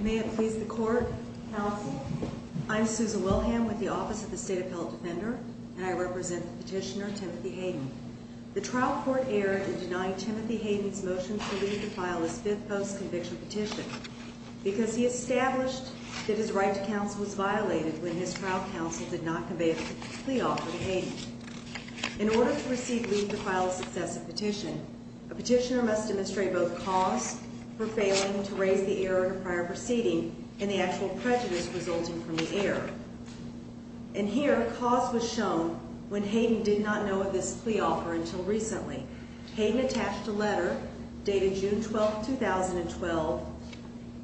May it please the Court, Mr. Chairman. I'm Susan Wilhelm with the Office of the State Appellate Defender, and I represent the petitioner, Timothy Hayden. The trial court erred in denying Timothy Hayden's motion to leave the file his fifth post-conviction petition because he established that his right to counsel was violated when his trial counsel did not convey the plea offer to Hayden. In order to receive leave to file a successive petition, a petitioner must demonstrate both cause for failing to raise the error in a prior proceeding and the actual prejudice resulting from the error. And here, cause was shown when Hayden did not know of this plea offer until recently. Hayden attached a letter dated June 12, 2012,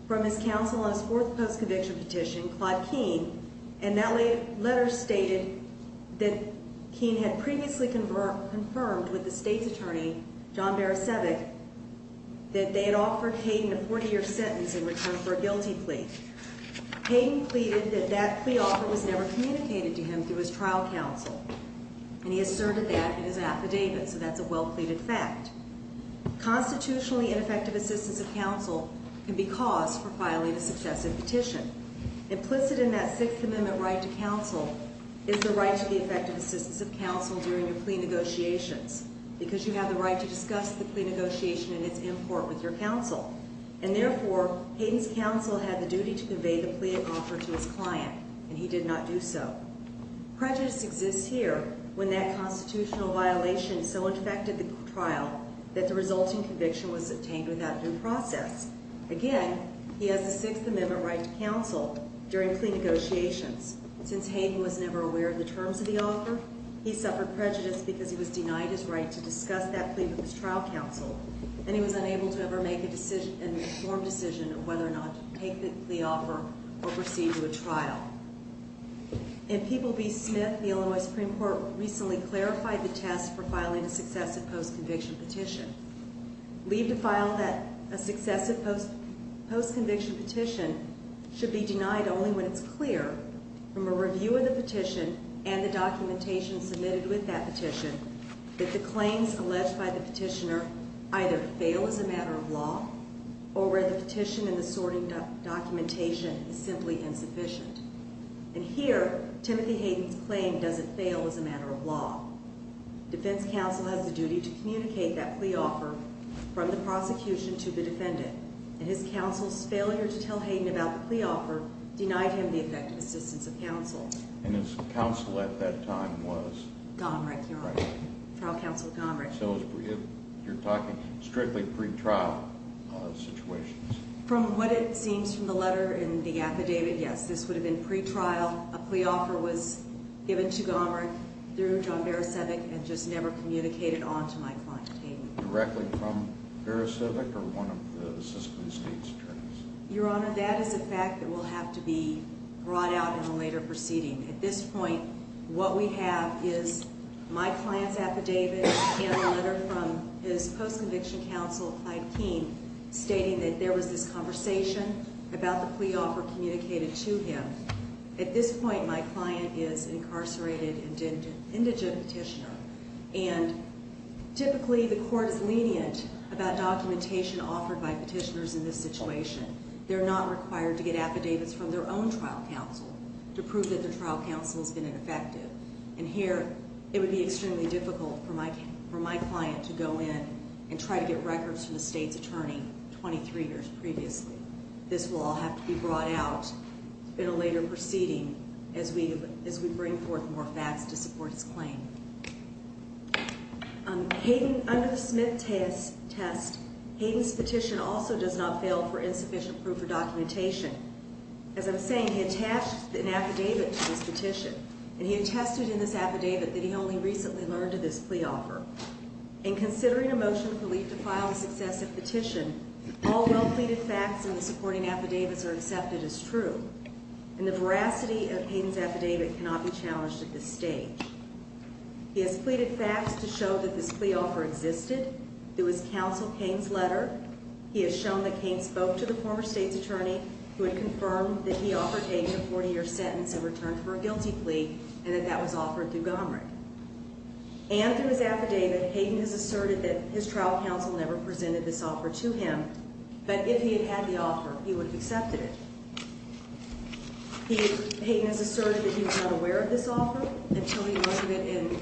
from his counsel on his fourth post-conviction petition, Claude Keene, and that letter stated that Keene had previously confirmed with the state's attorney, John Barasevic, that they had offered Hayden a 40-year sentence in return for a guilty plea. Hayden pleaded that that plea offer was never communicated to him through his trial counsel, and he asserted that in his affidavit, so that's a well-pleaded fact. Constitutionally, ineffective assistance of counsel can be cause for filing a successive petition. Implicit in that Sixth Amendment right to counsel is the right to the effective assistance of counsel during the plea negotiations because you have the right to discuss the plea negotiation and its import with your counsel. And therefore, Hayden's counsel had the duty to convey the plea offer to his client, and he did not do so. Prejudice exists here when that constitutional violation so infected the trial that the resulting conviction was obtained without due process. Again, he has the Sixth Amendment right to counsel during plea negotiations. Since Hayden was never aware of the terms of the offer, he suffered prejudice because he was denied his right to discuss that plea with his trial counsel, and he was unable to ever make an informed decision of whether or not to take the plea offer or proceed to a trial. In People v. Smith, the Illinois Supreme Court recently clarified the test for filing a successive post-conviction petition. Leave to file a successive post-conviction petition should be denied only when it's clear from a review of the petition and the documentation submitted with that petition that the claims alleged by the petitioner either fail as a matter of law or where the petition and the sorting documentation is simply insufficient. And here, Timothy Hayden's claim doesn't fail as a matter of law. Defense counsel has the duty to communicate that plea offer from the prosecution to the defendant, and his counsel's failure to tell Hayden about the plea offer denied him the effective assistance of counsel. And his counsel at that time was? Gomrick, your honor. Trial counsel Gomrick. So you're talking strictly pre-trial situations? From what it seems from the letter and the affidavit, yes. This would have been pre-trial. A plea offer was given to Gomrick through John Baraszewicz and just never communicated on to my client, Hayden. Directly from Baraszewicz or one of the system's state attorneys? Your honor, that is a fact that will have to be brought out in a later proceeding. At this point, what we have is my client's affidavit and a letter from his post-conviction counsel, Clyde Keene, stating that there was this conversation about the plea offer communicated to him. At this point, my client is an incarcerated indigent petitioner, and typically the court is lenient about documentation offered by petitioners in this situation. They're not required to get affidavits from their own trial counsel to prove that their trial counsel has been ineffective. And here, it would be extremely difficult for my client to go in and try to get records from the state's attorney 23 years previously. This will all have to be brought out in a later proceeding as we bring forth more facts to support his claim. Hayden, under the Smith test, Hayden's petition also does not fail for insufficient proof of documentation. As I'm saying, he attached an affidavit to his petition, and he attested in this affidavit that he only recently learned of this plea offer. In considering a motion to file this excessive petition, all well-pleaded facts in the supporting affidavits are accepted as true, and the veracity of Hayden's affidavit cannot be challenged at this stage. He has pleaded facts to show that this plea offer existed. It was counsel Keene's letter. He has shown that Keene spoke to the former state's attorney, who had confirmed that he offered Hayden a 40-year sentence in return for a guilty plea, and that that was offered through Gomrick. And through his affidavit, Hayden has asserted that his trial counsel never presented this offer to him, but if he had had the offer, he would have accepted it. Hayden has asserted that he was unaware of this offer until he noted it in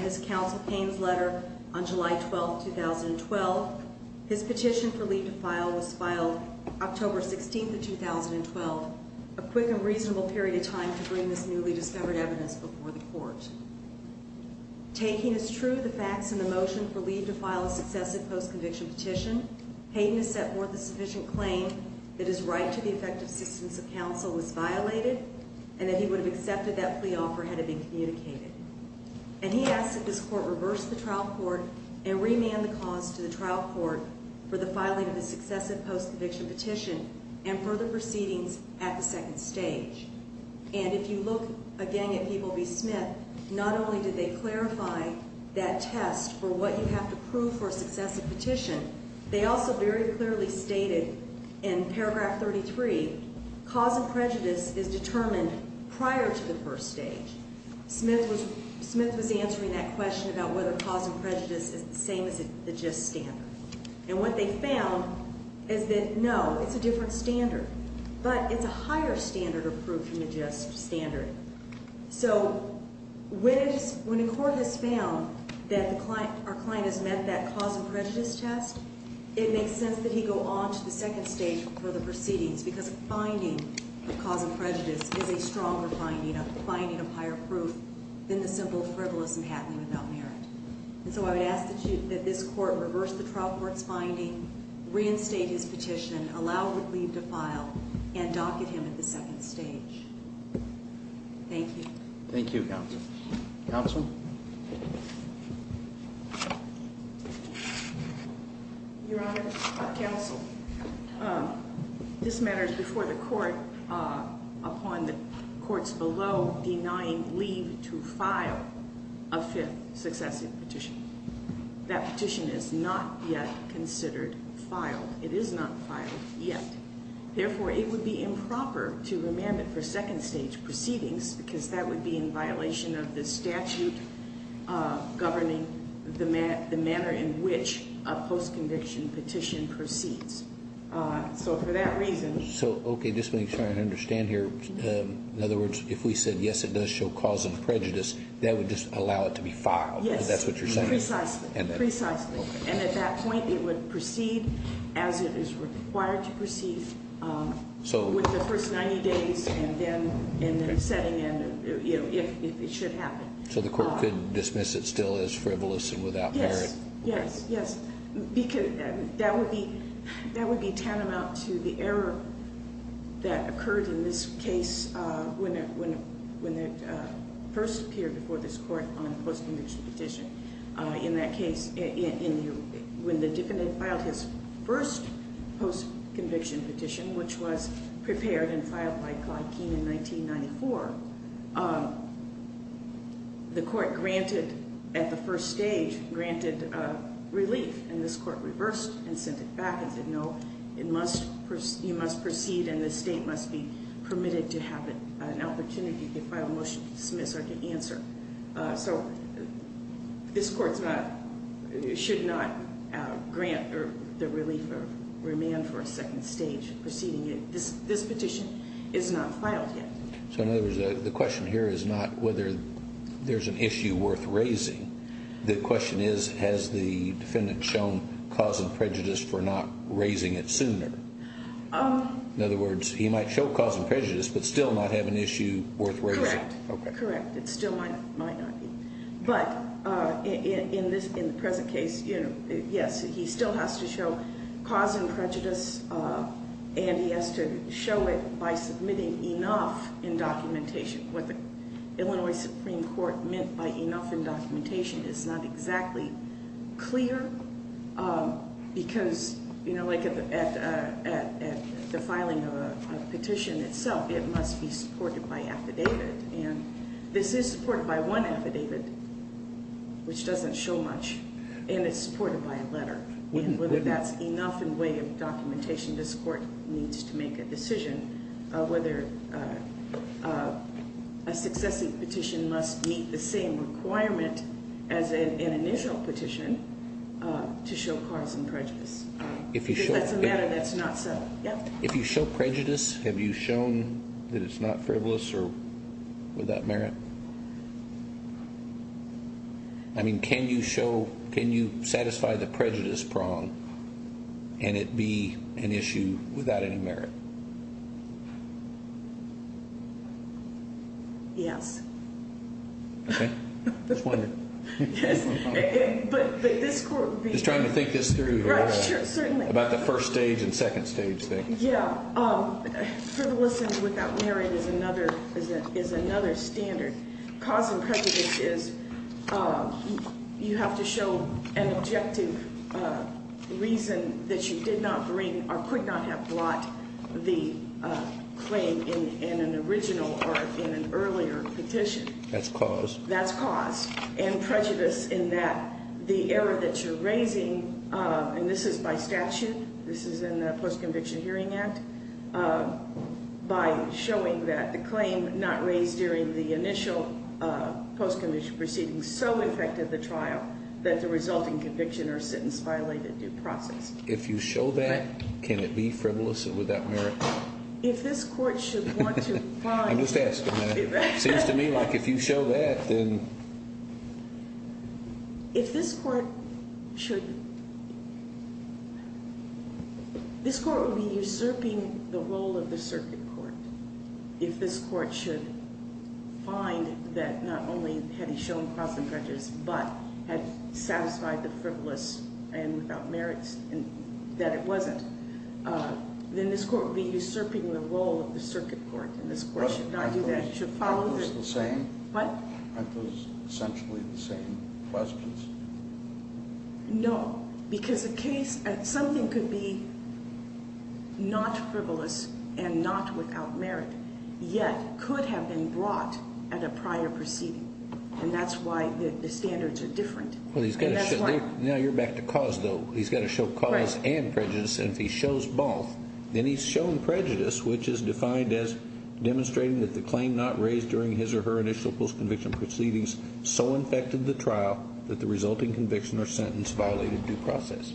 his counsel Keene's letter on July 12, 2012. His petition for leave to file was filed October 16, 2012, a quick and reasonable period of time to bring this newly discovered evidence before the court. Taking as true the facts in the motion for leave to file a successive post-conviction petition, Hayden has set forth a sufficient claim that his right to the effective assistance of counsel was violated, and that he would have accepted that plea offer had it been communicated. And he asks that this court reverse the trial court and remand the cause to the trial court for the filing of a successive post-conviction petition and further proceedings at the second stage. And if you look again at Peeble v. Smith, not only did they clarify that test for what you have to prove for a successive petition, they also very clearly stated in paragraph 33, cause and prejudice is determined prior to the first stage. Smith was answering that question about whether cause and prejudice is the same as the gist standard. And what they found is that, no, it's a different standard. But it's a higher standard of proof than the gist standard. So when a court has found that our client has met that cause and prejudice test, it makes sense that he go on to the second stage for the proceedings, because a finding of cause and prejudice is a stronger finding, a finding of higher proof, than the simple frivolous and hat-league about merit. And so I would ask that this court reverse the trial court's finding, reinstate his petition, allow him to leave to file, and docket him at the second stage. Thank you. Thank you, counsel. Counsel? Your Honor, counsel, this matter is before the court upon the courts below denying leave to file a fifth successive petition. That petition is not yet considered filed. It is not filed yet. Therefore, it would be improper to remand it for second stage proceedings, because that would be in violation of the statute governing the manner in which a post-conviction petition proceeds. So for that reason ‑‑ So, okay, just making sure I understand here. In other words, if we said, yes, it does show cause and prejudice, that would just allow it to be filed? Yes. Because that's what you're saying. Precisely. And at that point, it would proceed as it is required to proceed with the first 90 days, and then setting in if it should happen. So the court could dismiss it still as frivolous and without merit? Yes, yes, yes. That would be tantamount to the error that occurred in this case when it first appeared before this court on a post-conviction petition. In that case, when the defendant filed his first post-conviction petition, which was prepared and filed by Clyde Keene in 1994, the court granted at the first stage, granted relief. And this court reversed and sent it back and said, no, you must proceed and the state must be permitted to have an opportunity to file a motion to dismiss or to answer. So this court should not grant the relief or remand for a second stage proceeding. This petition is not filed yet. So in other words, the question here is not whether there's an issue worth raising. The question is, has the defendant shown cause and prejudice for not raising it sooner? In other words, he might show cause and prejudice but still not have an issue worth raising. Correct. It still might not be. But in the present case, yes, he still has to show cause and prejudice and he has to show it by submitting enough in documentation. What the Illinois Supreme Court meant by enough in documentation is not exactly clear because, you know, like at the filing of a petition itself, it must be supported by affidavit. And this is supported by one affidavit, which doesn't show much, and it's supported by a letter. And whether that's enough in way of documentation, this court needs to make a decision whether a successive petition must meet the same requirement as an initial petition to show cause and prejudice. If that's a matter that's not settled. If you show prejudice, have you shown that it's not frivolous or without merit? I mean, can you show, can you satisfy the prejudice prong and it be an issue without any merit? Yes. Okay. Just wondering. Yes, but this court would be. Just trying to think this through here. Right, sure, certainly. About the first stage and second stage thing. Yeah, frivolous and without merit is another standard. Cause and prejudice is you have to show an objective reason that you did not bring or could not have brought the claim in an original or in an earlier petition. That's cause. That's cause. And prejudice in that the error that you're raising, and this is by statute, this is in the Post-Conviction Hearing Act, by showing that the claim not raised during the initial post-conviction proceeding so affected the trial that the resulting conviction or sentence violated due process. If you show that, can it be frivolous and without merit? If this court should want to find. I'm just asking that. Seems to me like if you show that, then. If this court should. This court would be usurping the role of the circuit court. If this court should find that not only had he shown cause and prejudice, but had satisfied the frivolous and without merits that it wasn't, then this court would be usurping the role of the circuit court. And this court should not do that. It should follow the. Aren't those the same? What? Aren't those essentially the same questions? No. Because a case, something could be not frivolous and not without merit, yet could have been brought at a prior proceeding. And that's why the standards are different. And that's why. Now you're back to cause, though. He's got to show cause and prejudice. And if he shows both, then he's shown prejudice, which is defined as demonstrating that the claim not raised during his or her initial post-conviction proceedings so infected the trial that the resulting conviction or sentence violated due process.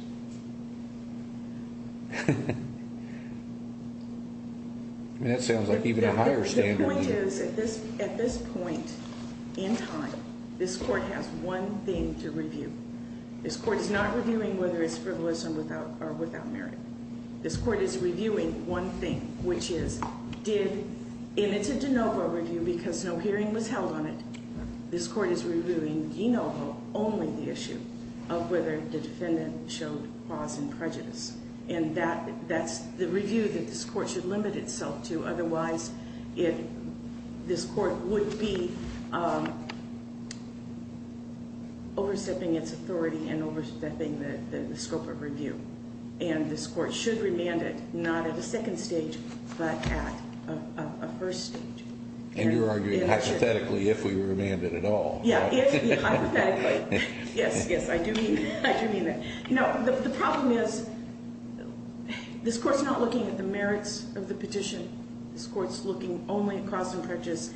That sounds like even a higher standard. The point is, at this point in time, this court has one thing to review. This court is not reviewing whether it's frivolous or without merit. This court is reviewing one thing, which is, in its de novo review, because no hearing was held on it, this court is reviewing de novo only the issue of whether the defendant showed cause and prejudice. And that's the review that this court should limit itself to. Otherwise, this court would be overstepping its authority and overstepping the scope of review. And this court should remand it, not at a second stage, but at a first stage. And you're arguing hypothetically, if we remand it at all. Yeah, hypothetically. Yes, yes, I do mean that. No, the problem is, this court's not looking at the merits of the petition. This court's looking only at cause and prejudice.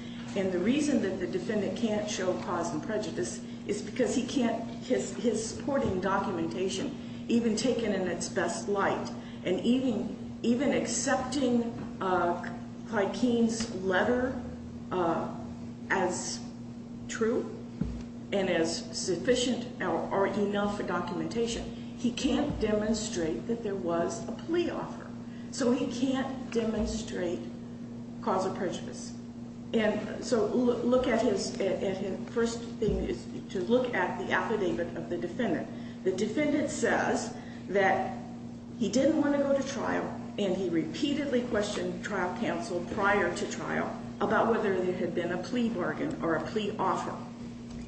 He can't demonstrate that there was a plea offer. So he can't demonstrate cause of prejudice. And so look at his first thing is to look at the affidavit of the defendant. The defendant says that he didn't want to go to trial, and he repeatedly questioned trial counsel prior to trial about whether there had been a plea bargain or a plea offer,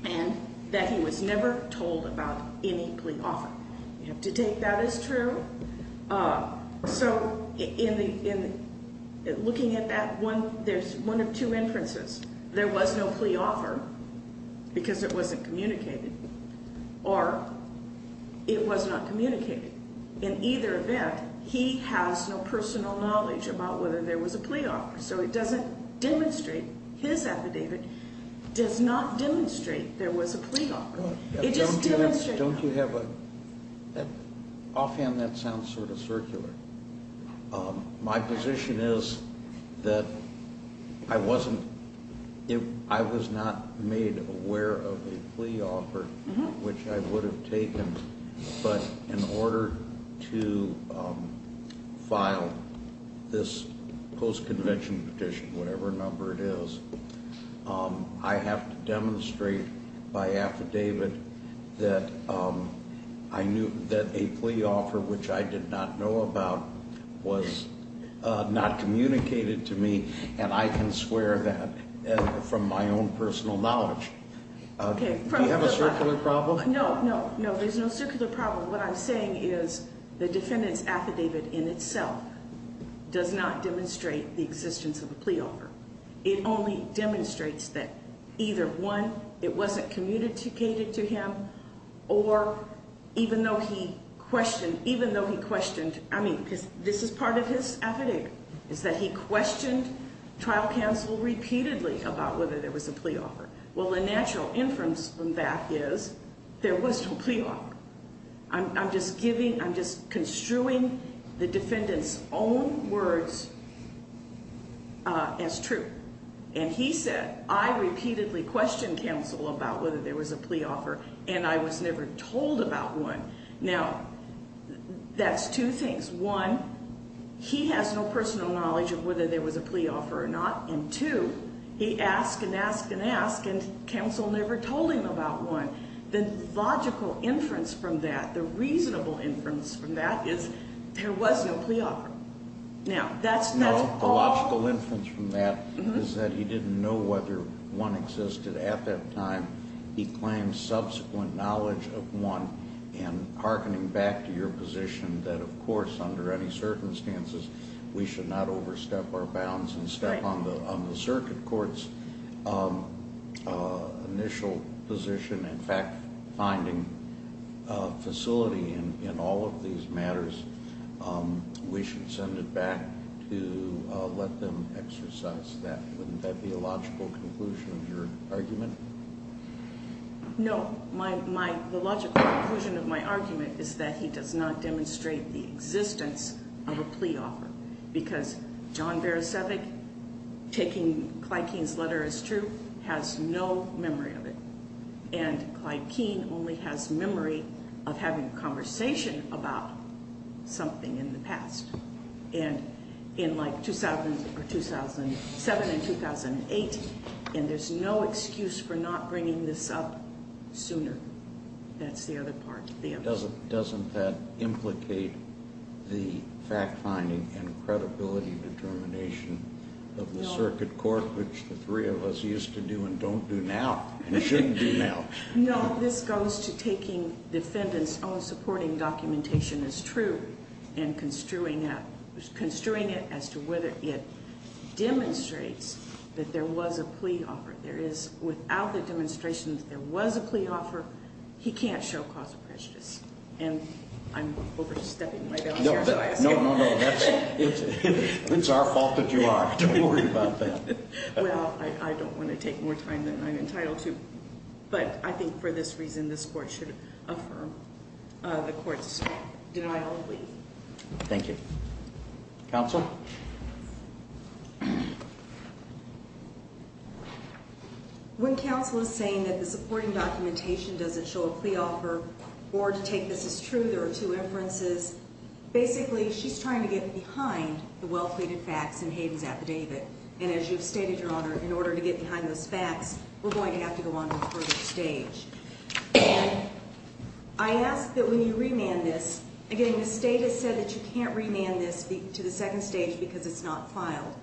and that he was never told about any plea offer. You have to take that as true. So in looking at that, there's one of two inferences. There was no plea offer because it wasn't communicated, or it was not communicated. In either event, he has no personal knowledge about whether there was a plea offer, so it doesn't demonstrate. His affidavit does not demonstrate there was a plea offer. Don't you have a, offhand that sounds sort of circular. My position is that I wasn't, I was not made aware of a plea offer, which I would have taken, but in order to file this post-convention petition, whatever number it is, I have to demonstrate by affidavit that I knew that a plea offer, which I did not know about, was not communicated to me, and I can swear that from my own personal knowledge. Do you have a circular problem? No, no, no, there's no circular problem. What I'm saying is the defendant's affidavit in itself does not demonstrate the existence of a plea offer. It only demonstrates that either, one, it wasn't communicated to him, or even though he questioned, even though he questioned, I mean, because this is part of his affidavit, is that he questioned trial counsel repeatedly about whether there was a plea offer. Well, the natural inference from that is there was no plea offer. I'm just giving, I'm just construing the defendant's own words as true, and he said, I repeatedly questioned counsel about whether there was a plea offer, and I was never told about one. Now, that's two things. One, he has no personal knowledge of whether there was a plea offer or not, and two, he asked and asked and asked, and counsel never told him about one. The logical inference from that, the reasonable inference from that is there was no plea offer. Now, that's all. No, the logical inference from that is that he didn't know whether one existed at that time. Wouldn't that be a logical conclusion of your argument? No. My, my, the logical conclusion of my argument is that he does not demonstrate the existence of a plea offer, because John Barasiewicz, taking Clyde Keene's letter as true, has no memory of it. And Clyde Keene only has memory of having a conversation about something in the past. And in like 2007 and 2008, and there's no excuse for not bringing this up sooner. That's the other part. Doesn't that implicate the fact-finding and credibility determination of the circuit court, which the three of us used to do and don't do now, and shouldn't do now? No, this goes to taking defendant's own supporting documentation as true and construing it as to whether it demonstrates that there was a plea offer. There is, without the demonstration that there was a plea offer, he can't show cause of prejudice. And I'm overstepping my bounds here, so I ask you. No, no, no, that's, it's our fault that you are. Don't worry about that. Well, I don't want to take more time than I'm entitled to. But I think for this reason, this court should affirm the court's denial of plea. Thank you. Counsel? When counsel is saying that the supporting documentation doesn't show a plea offer or to take this as true, there are two inferences. Basically, she's trying to get behind the well-pleaded facts in Hayden's affidavit. And as you've stated, Your Honor, in order to get behind those facts, we're going to have to go on to a further stage. And I ask that when you remand this, again, the state has said that you can't remand this to the second stage because it's not filed.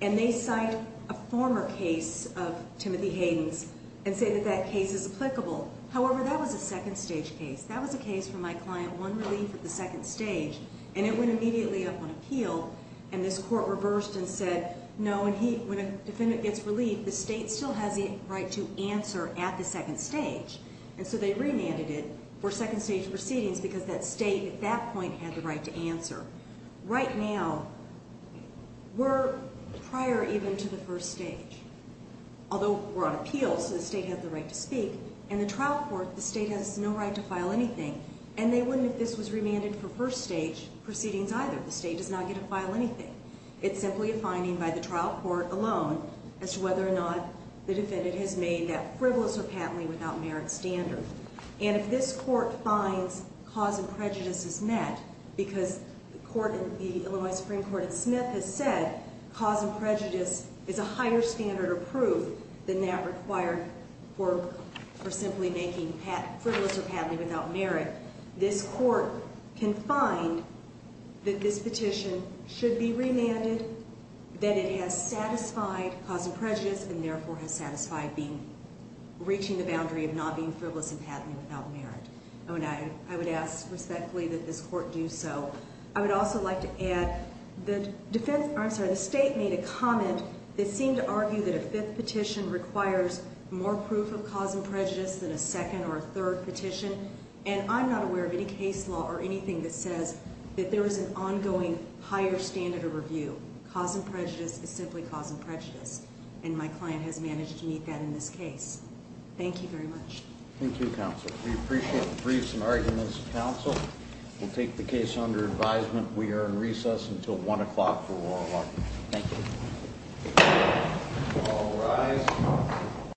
And they cite a former case of Timothy Hayden's and say that that case is applicable. However, that was a second-stage case. That was a case from my client, one relief at the second stage. And it went immediately up on appeal. And this court reversed and said, no, when a defendant gets relief, the state still has the right to answer at the second stage. And so they remanded it for second-stage proceedings because that state at that point had the right to answer. Right now, we're prior even to the first stage, although we're on appeal, so the state has the right to speak. In the trial court, the state has no right to file anything. And they wouldn't if this was remanded for first-stage proceedings either. The state does not get to file anything. It's simply a finding by the trial court alone as to whether or not the defendant has made that frivolous or patently without merit standard. And if this court finds cause and prejudice is met because the Illinois Supreme Court in Smith has said cause and prejudice is a higher standard of proof than that required for simply making frivolous or patently without merit, this court can find that this petition should be remanded, that it has satisfied cause and prejudice, and therefore has satisfied reaching the boundary of not being frivolous and patently without merit. And I would ask respectfully that this court do so. I would also like to add that the state made a comment that seemed to argue that a fifth petition requires more proof of cause and prejudice than a second or a third petition. And I'm not aware of any case law or anything that says that there is an ongoing higher standard of review. Cause and prejudice is simply cause and prejudice. And my client has managed to meet that in this case. Thank you very much. Thank you, counsel. We appreciate the briefs and arguments, counsel. We'll take the case under advisement. We are in recess until 1 o'clock for oral argument. Thank you. All rise.